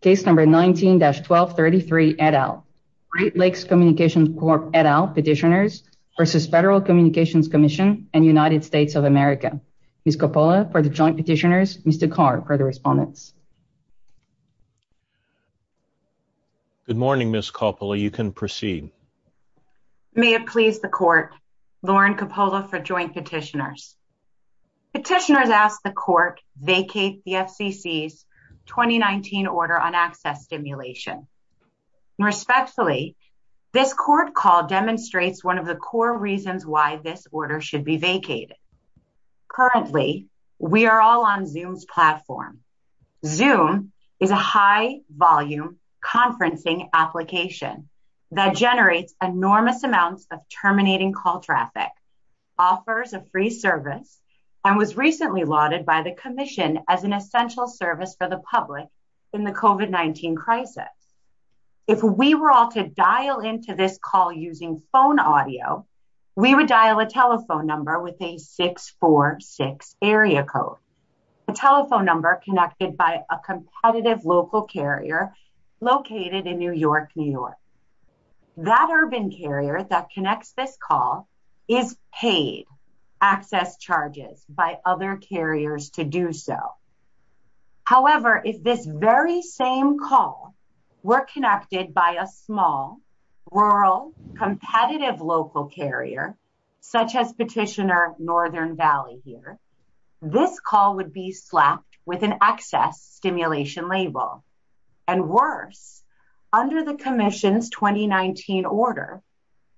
case number 19-1233 et al. Great Lakes Communications Corp et al petitioners versus Federal Communications Commission and United States of America. Ms. Coppola for the joint petitioners, Mr. Carr for the respondents. Good morning Ms. Coppola, you can proceed. May it please the court, Lauren Coppola for joint petitioners. Petitioners ask the court vacate the FCC's 2019 order on access stimulation. Respectfully, this court call demonstrates one of the core reasons why this order should be vacated. Currently, we are all on Zoom's platform. Zoom is a high-volume conferencing application that generates enormous amounts of terminating call traffic, offers a free service, and was recently lauded by the commission as an essential service for the public in the COVID-19 crisis. If we were all to dial into this call using phone audio, we would dial a telephone number with a 646 area code, a telephone number connected by a competitive local carrier located in New York, New York. That urban carrier that connects this call is paid access charges by other carriers to do so. However, if this very same call were connected by a small, rural, competitive local carrier such as Petitioner Northern Valley here, this call would be slapped with an access stimulation label. And worse, under the commission's 2019 order,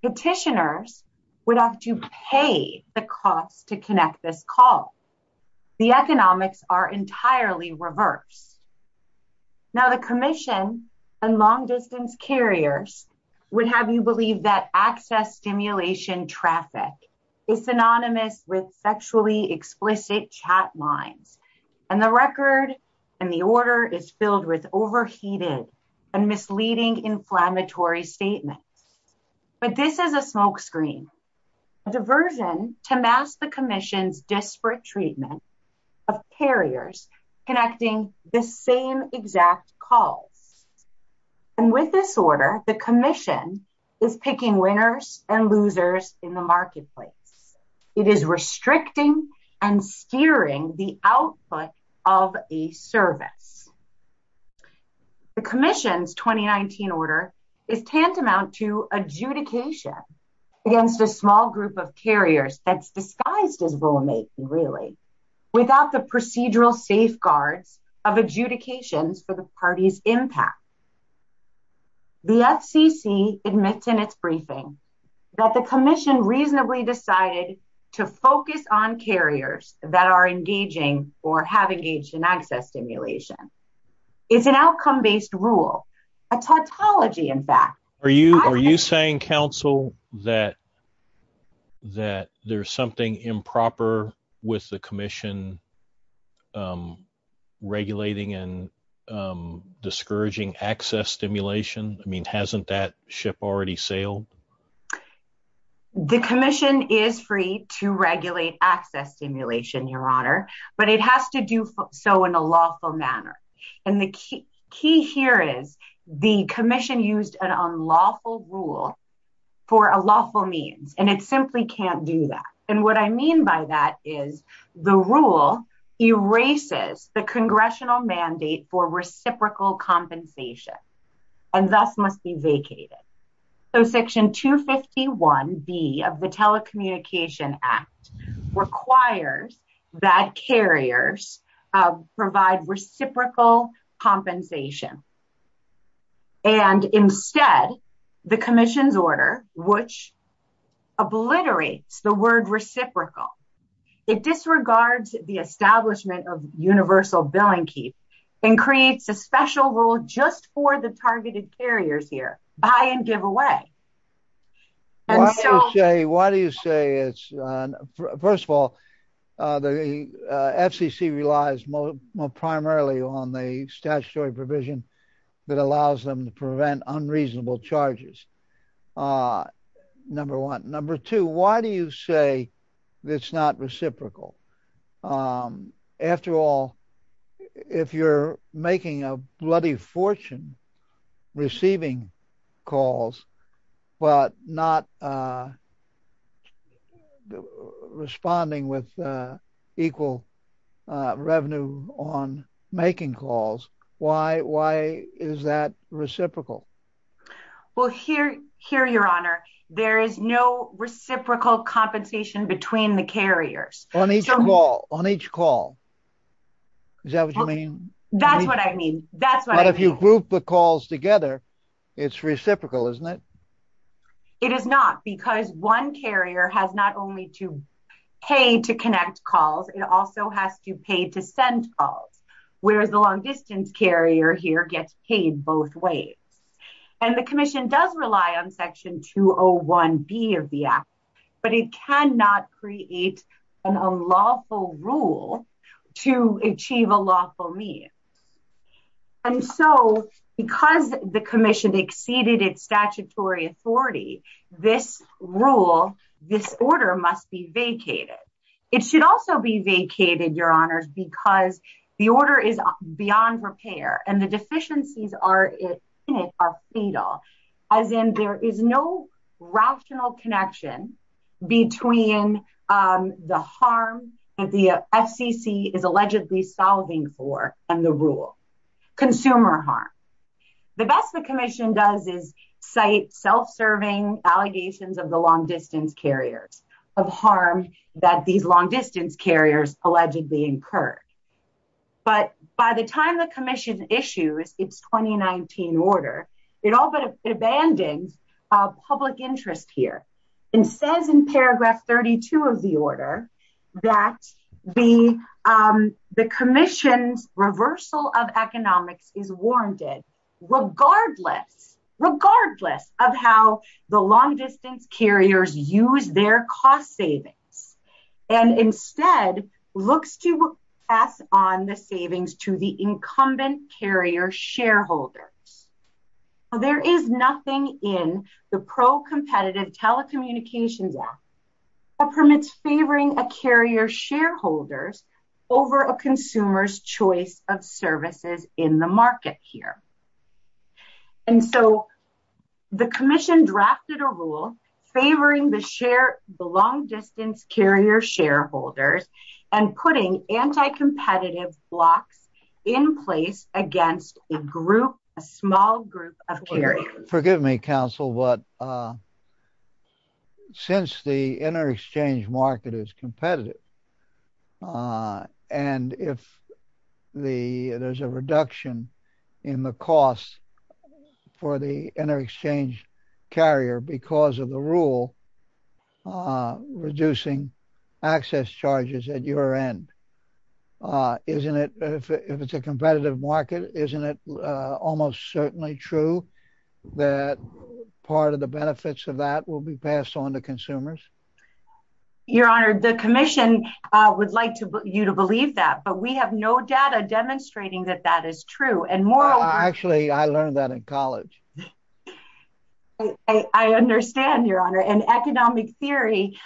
petitioners would have to pay the cost to connect this call. The economics are entirely reversed. Now, the commission and long-distance carriers would have you believe that access stimulation traffic is synonymous with sexually explicit chat lines, and the record and the order is filled with overheated and misleading inflammatory statements. But this is a smokescreen, a diversion to mask the commission's disparate treatment of carriers connecting the same exact calls. And with this order, the commission is picking winners and losers in the marketplace. It is restricting and steering the output of a service. The commission's 2019 order is tantamount to adjudication against a small group of carriers that's disguised as roommate, really, without the procedural safeguards of adjudications for the party's impact. The FCC admits in its briefing that the commission reasonably decided to focus on carriers that are engaging or have engaged in access stimulation. It's an outcome-based rule, a tautology, in fact. Are you saying, counsel, that there's something improper with the commission regulating and discouraging access stimulation? I mean, hasn't that ship already sailed? The commission is free to regulate access stimulation, Your Honor, but it has to do so in a lawful manner. And the key here is the commission used an unlawful rule for a lawful means, and it simply can't do that. And what I mean by that is the rule erases the congressional mandate for reciprocal compensation and thus must be vacated. So Section 251B of the Telecommunication Act requires that carriers provide reciprocal compensation. And instead, the commission's order, which obliterates the word reciprocal, it disregards the establishment of universal billing keep and creates a special rule just for the targeted carriers here, buy and give away. Why do you say it's, first of all, the FCC relies primarily on the statutory provision that allows them to prevent unreasonable charges, number one. Number two, why do you say it's not reciprocal? After all, if you're making a bloody fortune receiving calls, but not responding with equal revenue on making calls, why is that reciprocal? Well, here, Your Honor, there is no reciprocal compensation between the carriers. On each call? Is that what you mean? That's what I mean. That's what I mean. But if you group the calls together, it's reciprocal, isn't it? It is not, because one carrier has not only to pay to connect calls, it also has to pay to send calls, whereas the long distance carrier here gets paid both ways. And the commission does rely on Section 201B of the Act, but it cannot create an unlawful rule to achieve a lawful means. And so, because the commission exceeded its statutory authority, this rule, this order must be vacated. It should also be vacated, Your Honors, because the order is beyond repair and the deficiencies in it are fatal, as in there is no rational connection between the harm that the FCC is allegedly solving for and the rule. Consumer harm. The best the commission does is cite self-serving allegations of the long distance carriers, of harm that these long distance carriers allegedly incurred. But by the time the commission issues its 2019 order, it abandons public interest here and says in paragraph 32 of the order that the commission's reversal of economics is warranted, regardless, regardless of how the long distance carriers use their cost savings, and instead looks to pass on the savings to the incumbent carrier shareholders. There is nothing in the pro-competitive telecommunications act that permits favoring a carrier shareholders over a consumer's choice of services in the market here. And so, the commission drafted a rule favoring the long distance carrier shareholders and putting anti-competitive blocks in place against a group, a small group of carriers. Forgive me, counsel, but since the inter-exchange market is competitive, and if there's a reduction in the cost for the inter-exchange carrier because of the rule reducing access charges at your end, isn't it, if it's a competitive market, isn't it almost certainly true that part of the benefits of that will be passed on to consumers? Your honor, the commission would like you to believe that, but we have no data demonstrating that that is true. Actually, I learned that in college. I understand, your honor, and economic theory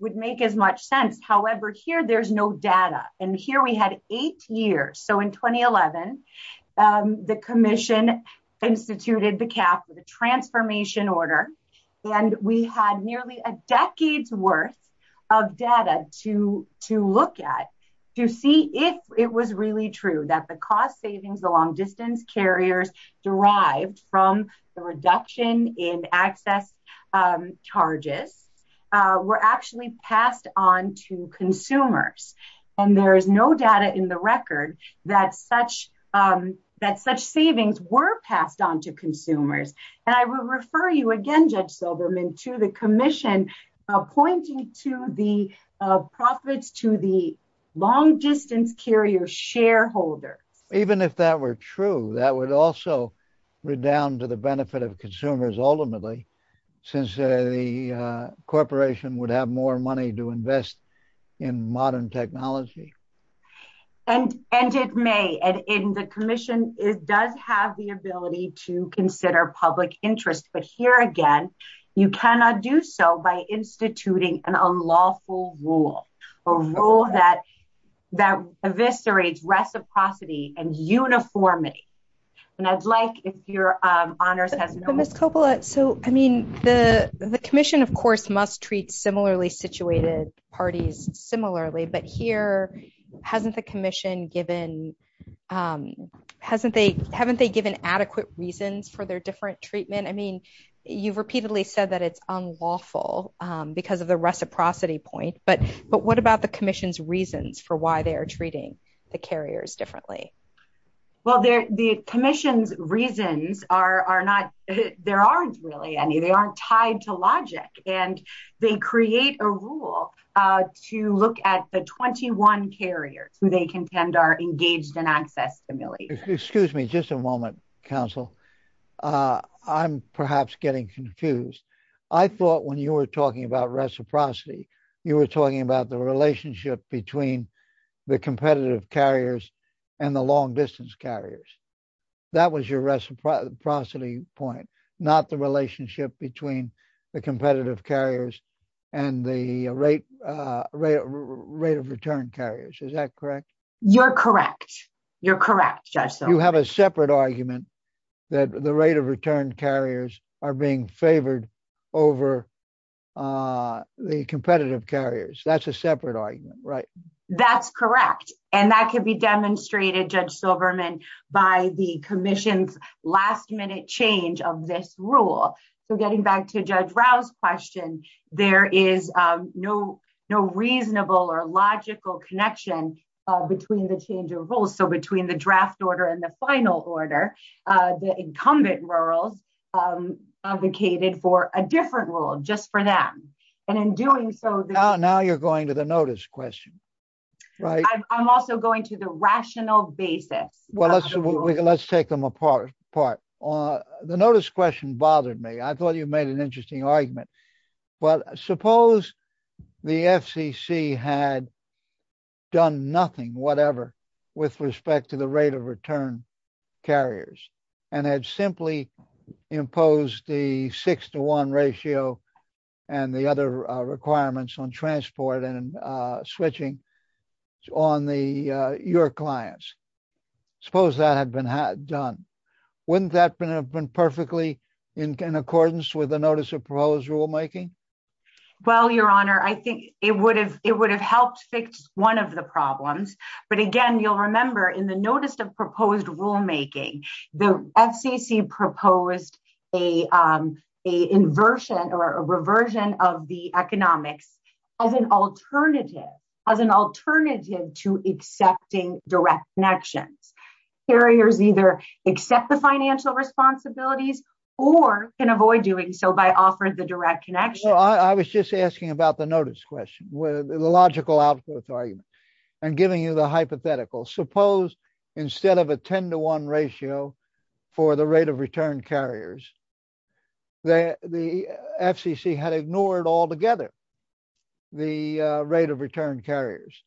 would make as much sense. However, here there's no data, and here we had eight years. So, in 2011, the commission instituted the cap, the transformation order, and we had nearly a decade's worth of data to look at to see if it was really true that the cost savings along distance carriers derived from the reduction in access charges were actually passed on to consumers. And there is no data in the record that such savings were passed on to consumers. And I will refer you again, Judge Silberman, to the commission pointing to the profits to the long distance carrier shareholders. Even if that were true, that would also redound to the benefit of consumers ultimately, since the corporation would have more money to invest in modern technology. And it may, and the commission does have the ability to consider public interest. But here again, you cannot do so by instituting an unlawful rule, a rule that eviscerates reciprocity and uniformity. And I'd like if your honors has- But Ms. Coppola, so, I mean, the commission, of course, must treat similarly situated parties similarly, but here, hasn't the commission given, haven't they given adequate reasons for their different treatment? I mean, you've repeatedly said that it's unlawful because of the reciprocity point, but what about the commission's reasons for why they are treating the carriers differently? Well, the commission's reasons are not, there aren't really any, they aren't tied to logic. And they create a rule to look at the 21 carriers who they contend are engaged in access stimulation. Excuse me, just a moment, counsel. I'm perhaps getting confused. I thought when you were talking about reciprocity, you were talking about the relationship between the competitive carriers and the long distance carriers. That was your reciprocity point, not the relationship between the competitive carriers and the rate of return carriers. Is that correct? You're correct. You're correct, Judge Silverman. You have a separate argument that the rate of return carriers are being favored over the competitive carriers. That's a separate argument, right? That's correct. And that can be demonstrated, Judge Silverman, by the commission's last change of this rule. So getting back to Judge Rao's question, there is no reasonable or logical connection between the change of rules. So between the draft order and the final order, the incumbent rurals advocated for a different rule just for them. And in doing so- Now you're going to the notice question, right? I'm also going to the rational basis. Let's take them apart. The notice question bothered me. I thought you made an interesting argument. But suppose the FCC had done nothing, whatever, with respect to the rate of return carriers and had simply imposed the six to one ratio and the other requirements on transport and switching on your clients. Suppose that had been done. Wouldn't that have been perfectly in accordance with the notice of proposed rulemaking? Well, Your Honor, I think it would have helped fix one of the problems. But again, you'll remember in the notice of proposed rulemaking, the FCC proposed an inversion or a reversion of the economics as an alternative to accepting direct connections. Carriers either accept the financial responsibilities or can avoid doing so by offering the direct connection. Well, I was just asking about the notice question, the logical output of the argument and giving you the hypothetical. Suppose instead of a 10 to one ratio for the rate of return carriers, the FCC had ignored altogether the rate of return carriers.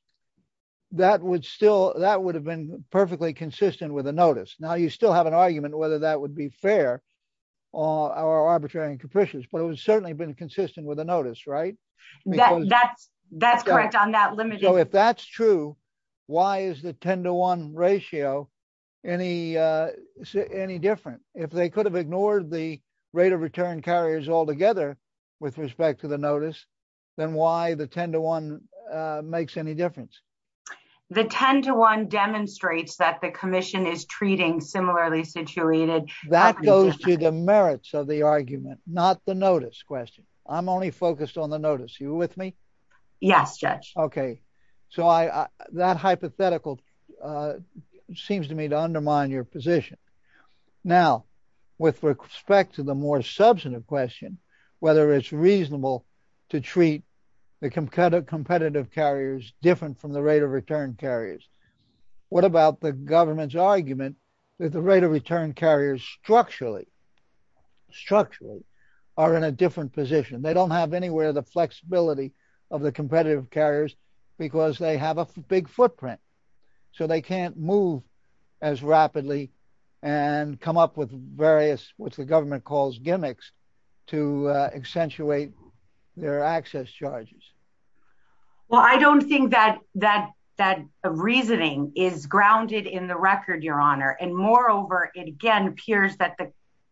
That would still, that would have been perfectly consistent with a notice. Now, you still have an argument whether that would be fair or arbitrary and capricious, but it would certainly have been consistent with a notice, right? That's correct on that limit. So if that's true, why is the 10 to one ratio any different? If they could have ignored the rate of return carriers altogether with respect to the notice, then why the 10 to one makes any difference? The 10 to one demonstrates that the commission is treating similarly situated- That goes to the merits of the argument, not the notice question. I'm only focused on the notice. You with me? Yes, Judge. Okay. So that hypothetical seems to me to undermine your position. Now, with respect to the more substantive question, whether it's reasonable to treat the competitive carriers different from the rate of return carriers. What about the government's argument that the rate of return carriers structurally are in a different position? They don't have anywhere the flexibility of the competitive carriers because they have a big footprint. So they can't move as rapidly and come up with various, what the government calls gimmicks to accentuate their access charges. Well, I don't think that reasoning is grounded in the record, Your Honor. And moreover, it again appears that the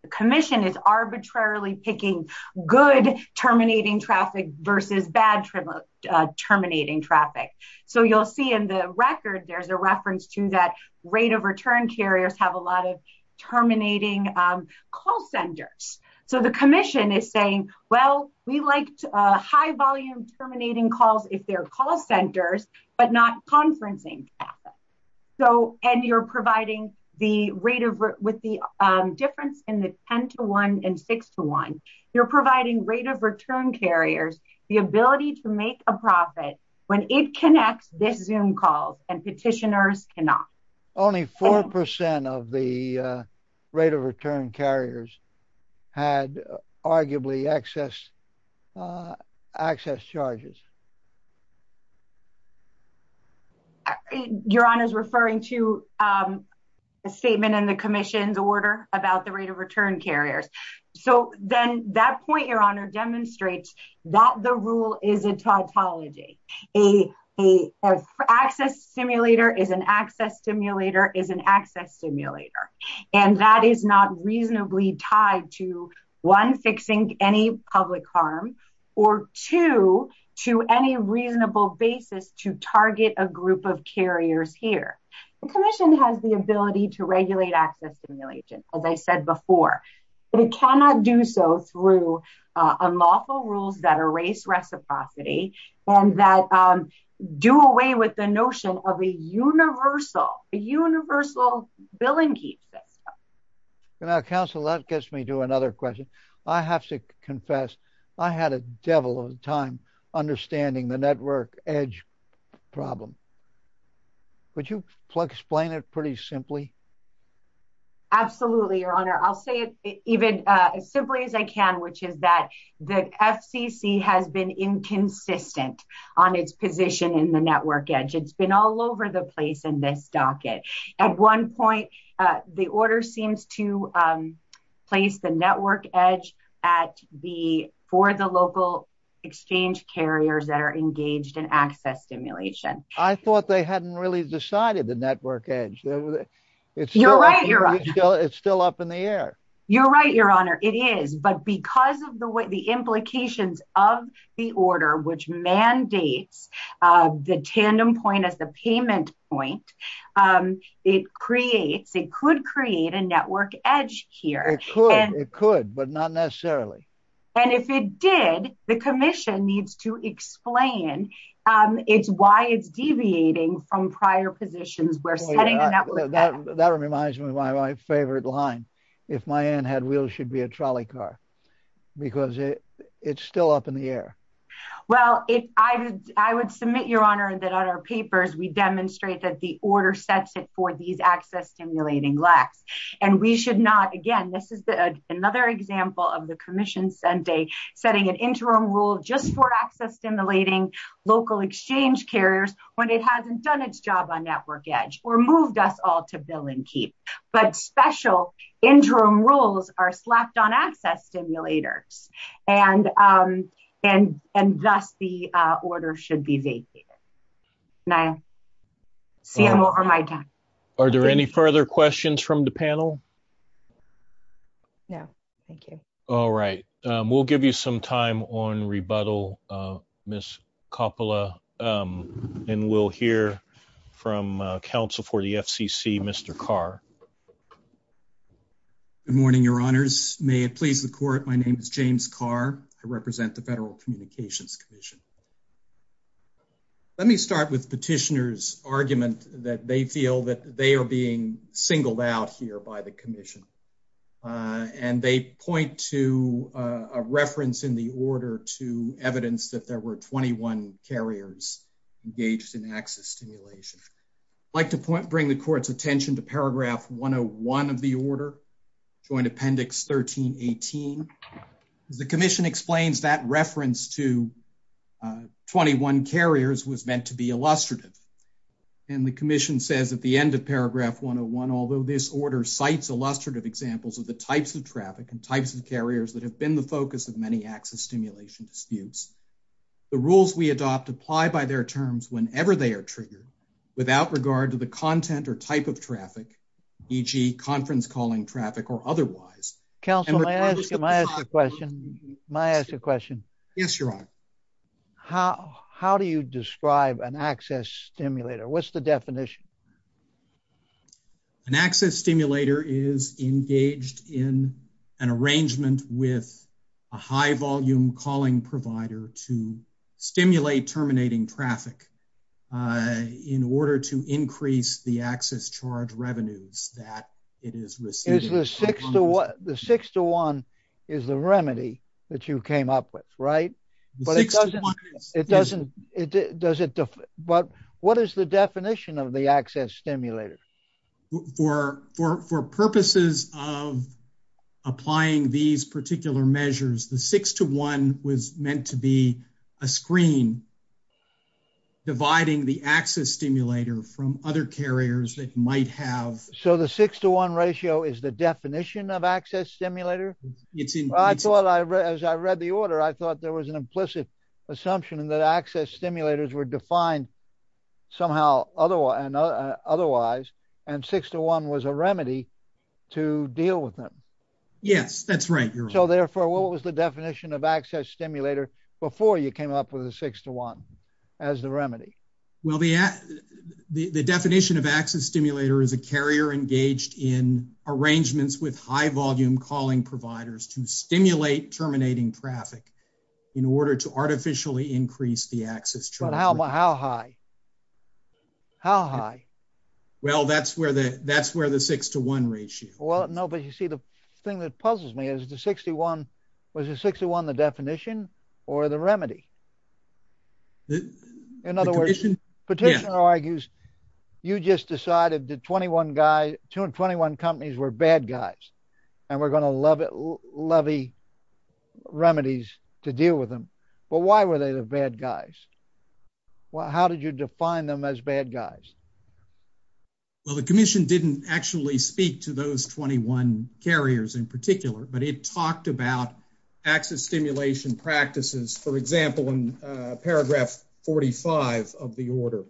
commission is arbitrarily picking good terminating traffic versus bad terminating traffic. So you'll see in the record, there's a reference to that rate of return carriers have a lot of terminating call centers. So the commission is saying, well, we like high volume terminating calls if they're call centers, but not conferencing. So, and you're providing the rate of, with the difference in the 10 to one and six to one, you're providing rate of return carriers, the ability to make a profit when it connects this Zoom calls and petitioners cannot. Only 4% of the rate of return carriers had arguably access charges. Your Honor is referring to a statement in the commission's So then that point, Your Honor demonstrates that the rule is a tautology. A access simulator is an access simulator is an access simulator. And that is not reasonably tied to one fixing any public harm or two to any reasonable basis to target a group of carriers here. The commission has the but it cannot do so through unlawful rules that are race reciprocity and that do away with the notion of a universal, a universal billing key system. And I counsel that gets me to another question. I have to confess. I had a devil of a time understanding the network edge problem. Would you explain it pretty simply? Absolutely, Your Honor. I'll say it even as simply as I can, which is that the FCC has been inconsistent on its position in the network edge. It's been all over the place in this docket. At one point, the order seems to place the network edge at the, for the local exchange carriers that are engaged in access stimulation. I thought they hadn't really decided the network edge. You're right, Your Honor. It's still up in the air. You're right, Your Honor. It is. But because of the way, the implications of the order, which mandates the tandem point as the payment point, it creates, it could create a network edge here. It could, but not necessarily. And if it did, the commission needs to explain it's why it's deviating from prior positions where setting a network edge. That reminds me of my favorite line. If my aunt had wheels, she'd be a trolley car. Because it's still up in the air. Well, I would submit, Your Honor, that on our papers, we demonstrate that the order sets it for these access stimulating lacks. And we should not, again, this is another example of the commission setting an interim rule just for local exchange carriers when it hasn't done its job on network edge or moved us all to bill and keep. But special interim rules are slapped on access stimulators. And thus, the order should be vacated. Now, CMO, over my time. Are there any further questions from the panel? No. Thank you. All right. We'll give you some time on rebuttal, Ms. Coppola. And we'll hear from counsel for the FCC, Mr. Carr. Good morning, Your Honors. May it please the court, my name is James Carr. I represent the Federal Communications Commission. Let me start with petitioner's argument that they feel that they are being singled out here by the commission. And they point to a reference in the order to evidence that there were 21 carriers engaged in access stimulation. I'd like to bring the court's attention to paragraph 101 of the order, joint appendix 1318. The commission explains that reference to 21 carriers was meant to be illustrative. And the commission says at the end of paragraph 101, although this order cites illustrative examples of the types of traffic and the rules we adopt apply by their terms whenever they are triggered, without regard to the content or type of traffic, e.g., conference calling traffic or otherwise. Counsel, may I ask a question? Yes, Your Honor. How do you describe an access stimulator? What's the definition? An access stimulator is engaged in an arrangement with a high volume calling provider to stimulate terminating traffic in order to increase the access charge revenues that it is receiving. The six to one is the remedy that you came up with, right? But it doesn't, it doesn't, it does it. But what is the definition of the access stimulator? For purposes of applying these particular measures, the six to one was meant to be a screen dividing the access stimulator from other carriers that might have. So the six to one ratio is the definition of access stimulator. I thought as I read the order, I thought there was an implicit assumption that access stimulators were defined somehow otherwise, and six to one was a remedy to deal with them. Yes, that's right, Your Honor. So therefore, what was the definition of access stimulator before you came up with a six to one as the remedy? Well, the definition of access stimulator was to stimulate terminating traffic in order to artificially increase the access. But how high? How high? Well, that's where the six to one ratio. Well, no, but you see the thing that puzzles me is the 61, was the 61 the definition or the remedy? In other words, petitioner argues, you just decided the 21 guys, two and 21 companies were bad guys, and we're going to levy remedies to deal with them. But why were they the bad guys? How did you define them as bad guys? Well, the commission didn't actually speak to those 21 carriers in particular, but it talked about access stimulation practices, for example, in paragraph 45 of the order.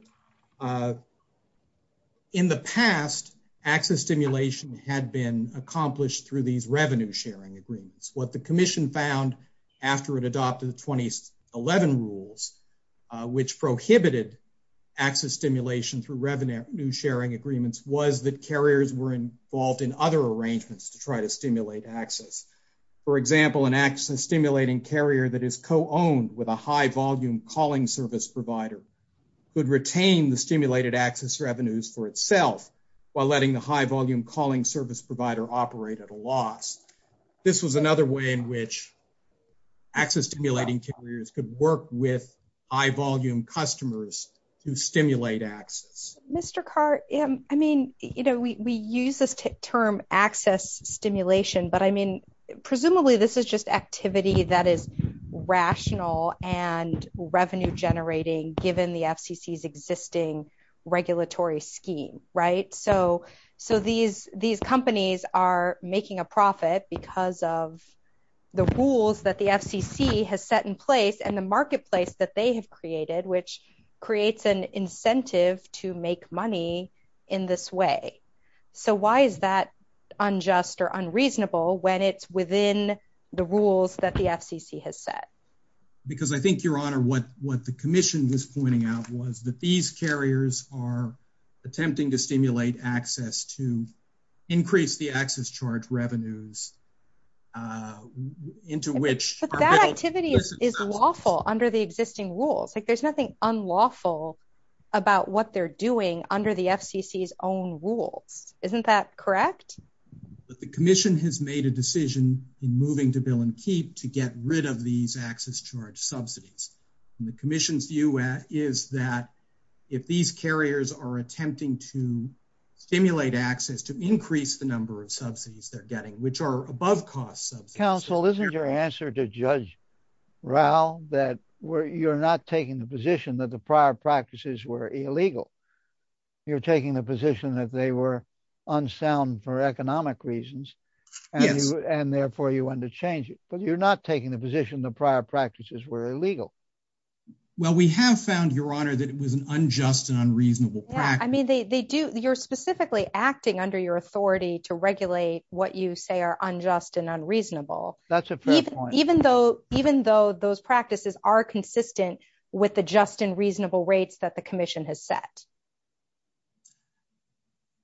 In the past, access stimulation had been accomplished through these revenue sharing agreements. What the commission found after it adopted the 2011 rules, which prohibited access stimulation through revenue sharing agreements was that carriers were involved in other arrangements to try to stimulate access. For example, an access owned with a high volume calling service provider could retain the stimulated access revenues for itself while letting the high volume calling service provider operate at a loss. This was another way in which access stimulating carriers could work with high volume customers to stimulate access. Mr. Carr, I mean, you know, we use this term access stimulation, but I mean, and revenue generating given the FCC's existing regulatory scheme, right? So these companies are making a profit because of the rules that the FCC has set in place and the marketplace that they have created, which creates an incentive to make money in this way. So why is that because I think your honor, what, what the commission was pointing out was that these carriers are attempting to stimulate access to increase the access charge revenues into which that activity is lawful under the existing rules. Like there's nothing unlawful about what they're doing under the FCC's own rules. Isn't that correct? But the commission has made a decision in moving to bill and keep to get rid of these access charge subsidies. And the commission's view is that if these carriers are attempting to stimulate access to increase the number of subsidies they're getting, which are above costs. Counsel, isn't your answer to judge Raul that where you're not taking the position that prior practices were illegal, you're taking the position that they were unsound for economic reasons and therefore you want to change it, but you're not taking the position that prior practices were illegal. Well, we have found your honor that it was an unjust and unreasonable. I mean, they, they do, you're specifically acting under your authority to regulate what you say are unjust and unreasonable. That's a fair point. Even though, even though those practices are consistent with the just and reasonable rates that the commission has set.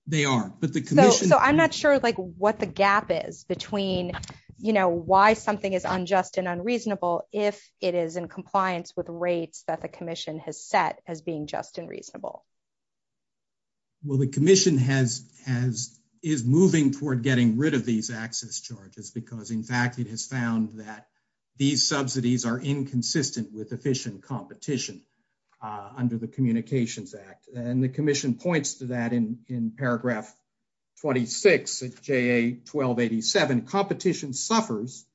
They are, but the commission, I'm not sure like what the gap is between, you know, why something is unjust and unreasonable. If it is in compliance with rates that the commission has set as being just and reasonable. Well, the commission has, has, is moving toward getting rid of these access charges because in fact, it has found that these subsidies are inconsistent with efficient competition, uh, under the communications act. And the commission points to that in, in paragraph 26 at J a 1287 competition suffers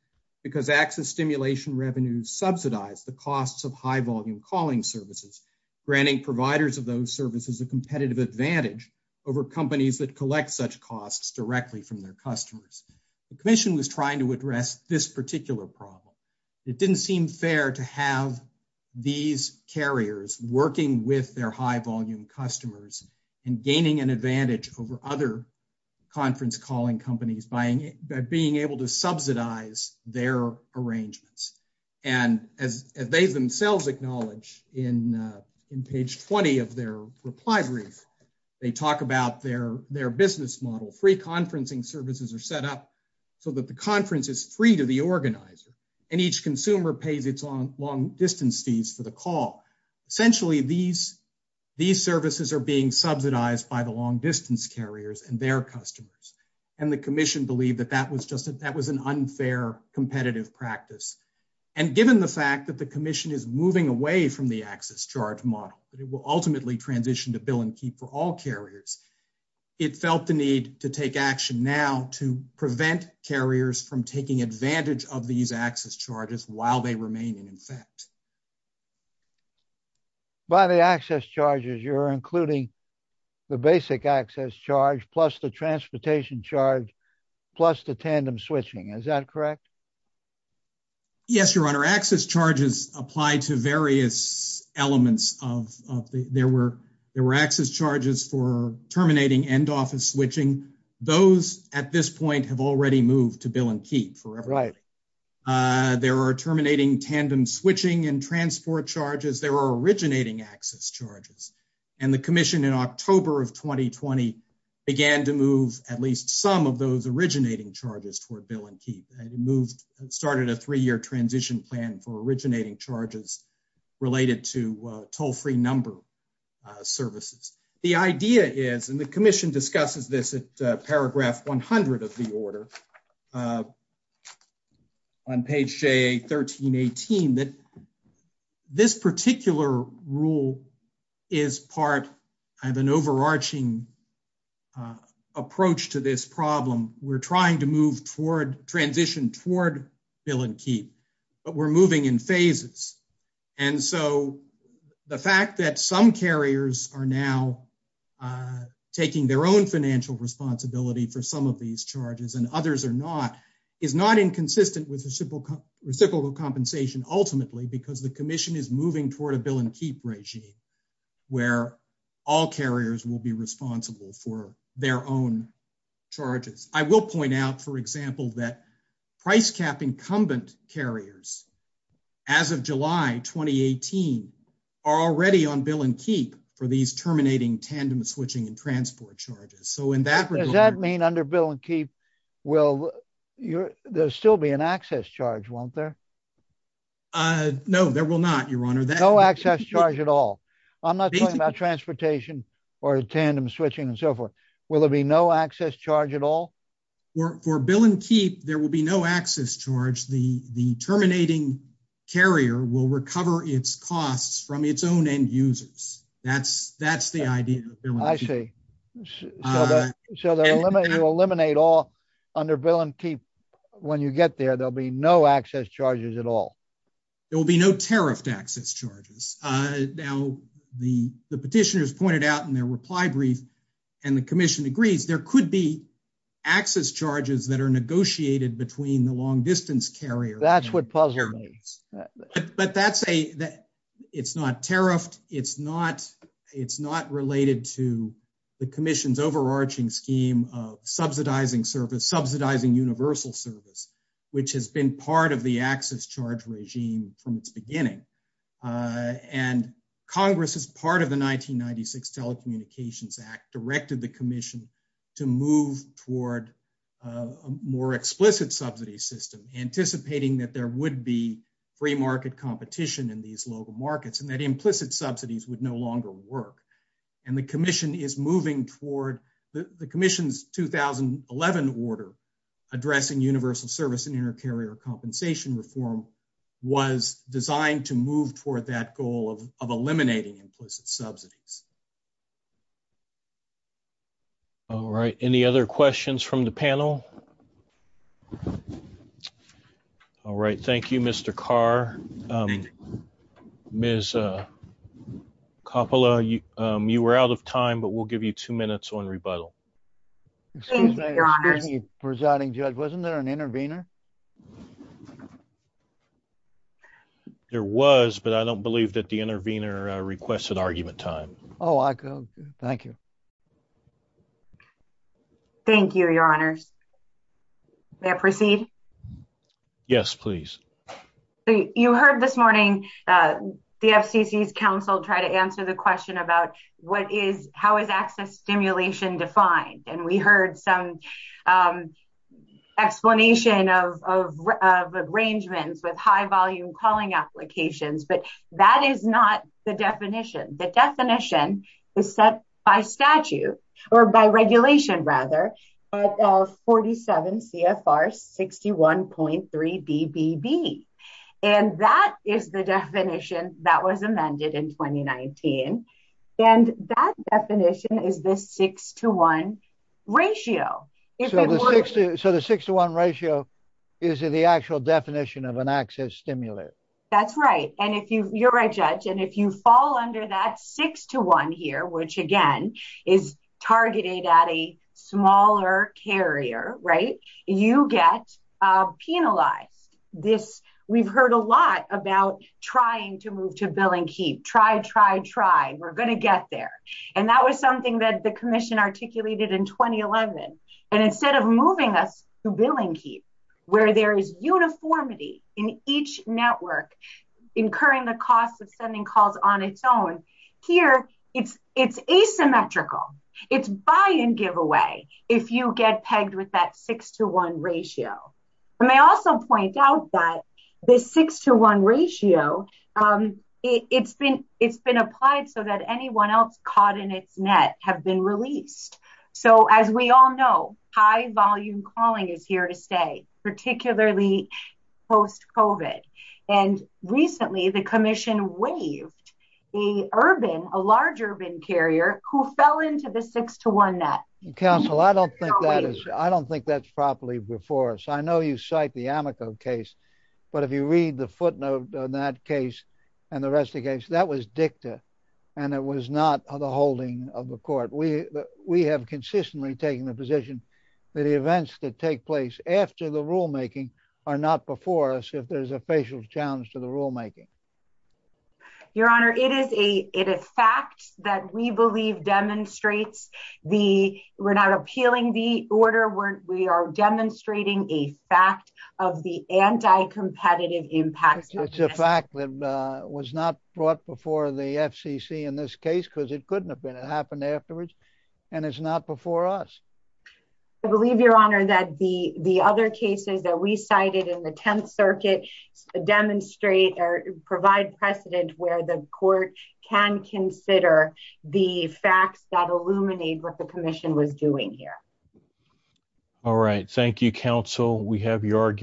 because access stimulation revenues subsidize the costs of high volume calling services, granting providers of those services, a competitive advantage over companies that collect such costs directly from their customers. The commission was trying to address this particular problem. It didn't seem fair to have these carriers working with their high volume customers and gaining an advantage over other conference calling companies by being able to subsidize their arrangements. And as they themselves acknowledge in, uh, in page 20 of their reply brief, they talk about their, their business model, free conferencing services are set up so that the conference is free to the organizer and each consumer pays its own long distance fees for the call. Essentially these, these services are being subsidized by the long distance carriers and their customers. And the commission believed that that was just, that was an unfair competitive practice. And given the fact that the commission is moving away from the access charge model, but it will ultimately transition to bill and keep for all carriers. It felt the need to take action now to prevent carriers from taking advantage of these access charges while they remain in effect by the access charges. You're including the basic access charge plus the transportation charge, plus the tandem switching. Is that correct? Yes, your honor access charges apply to various elements of, of the, there were, there were access charges for terminating end office switching. Those at this point have already moved to bill and keep forever. Uh, there are terminating tandem switching and transport charges. There are originating access charges and the commission in October of 2020 began to move at least some of those originating charges toward bill and keep and moved and started a three-year transition plan for originating charges related to a toll-free number services. The idea is, and the commission discusses this at a paragraph 100 of the order uh, on page J 1318 that this particular rule is part of an overarching approach to this problem. We're trying to move toward transition toward bill and keep, but we're moving in phases. And so the fact that some carriers are now uh, taking their own financial responsibility for some of these charges and others are not, is not inconsistent with reciprocal compensation ultimately, because the commission is moving toward a bill and keep regime where all carriers will be responsible for their own charges. I will point out for example, that price cap incumbent carriers as of July, 2018 are already on bill and keep for these terminating tandem switching and transport charges. So in that regard, does that mean under bill and keep will you're, there'll still be an access charge, won't there? Uh, no, there will not your honor that access charge at all. I'm not talking about transportation or tandem switching and so forth. Will there be no access charge at all? For bill and keep, there will be no access charge. The, the terminating carrier will recover its costs from its own end users. That's, that's the idea. I see. So the, so the limit, you'll eliminate all under bill and keep when you get there, there'll be no access charges at all. There will be no tariff access charges. Uh, now the, the petitioners pointed out in their reply brief and the commission agrees there could be access charges that are negotiated between the it's not tariffed. It's not, it's not related to the commission's overarching scheme of subsidizing service, subsidizing universal service, which has been part of the access charge regime from its beginning. Uh, and Congress is part of the 1996 telecommunications act directed the commission to move toward a more explicit subsidy system, anticipating that there would be free market competition in these local markets and that implicit subsidies would no longer work. And the commission is moving toward the commission's 2011 order addressing universal service and inter carrier compensation reform was designed to move toward that goal of, of eliminating implicit subsidies. All right. Any other questions from the panel? All right. Thank you, Mr. Carr. Um, Ms. Uh, Coppola, you, um, you were out of time, but we'll give you two minutes on rebuttal. Presiding judge. Wasn't there an intervener? There was, but I don't believe that the intervener requested argument time. Oh, I go. Thank you. Okay. Thank you, your honors. May I proceed? Yes, please. You heard this morning, uh, the FCC's council try to answer the question about what is, how is access stimulation defined? And we heard some, um, explanation of, of, of arrangements with high volume calling applications, but that is not the definition. The definition is set by statute or by regulation rather, but, uh, 47 CFR 61.3 BBB. And that is the definition that was amended in 2019. And that definition is this six to one ratio. So the six to one ratio is the actual definition of an access stimulant. That's right. And if you, you're a judge and if you fall under that six to one here, which again is targeted at a smaller carrier, right? You get, uh, penalized this. We've heard a lot about trying to move to billing, keep, try, try, try. We're going to get there. And that was something that the commission articulated in 2011. And instead of moving us to billing, keep where there is uniformity in each network, incurring the costs of sending calls on its own here, it's, it's asymmetrical it's buy and give away. If you get pegged with that six to one ratio, I may also point out that the six to one ratio, um, it's been, it's been applied so that anyone else caught in its net have been released. So as we all know, high volume calling is here to stay particularly post COVID. And recently the commission waived a urban, a large urban carrier who fell into the six to one net. Counsel, I don't think that is, I don't think that's properly before us. I know you cite the Amico case, but if you read the footnote on that case and the rest of the case, that was dicta and it was not the holding of the court. We, we have consistently taken the position that the events that take place after the rulemaking are not before us. If there's a facial challenge to the rulemaking, your honor, it is a, it is fact that we believe demonstrates the, we're not appealing the order where we are demonstrating a fact of the anti-competitive impact. It's a fact that, uh, was not brought before the FCC in this case because it couldn't have been, it happened afterwards and it's not before us. I believe your honor that the, the other cases that we cited in the 10th circuit demonstrate or provide precedent where the court can consider the facts that illuminate what the commission was doing here. All right. Thank you. Counsel, we have your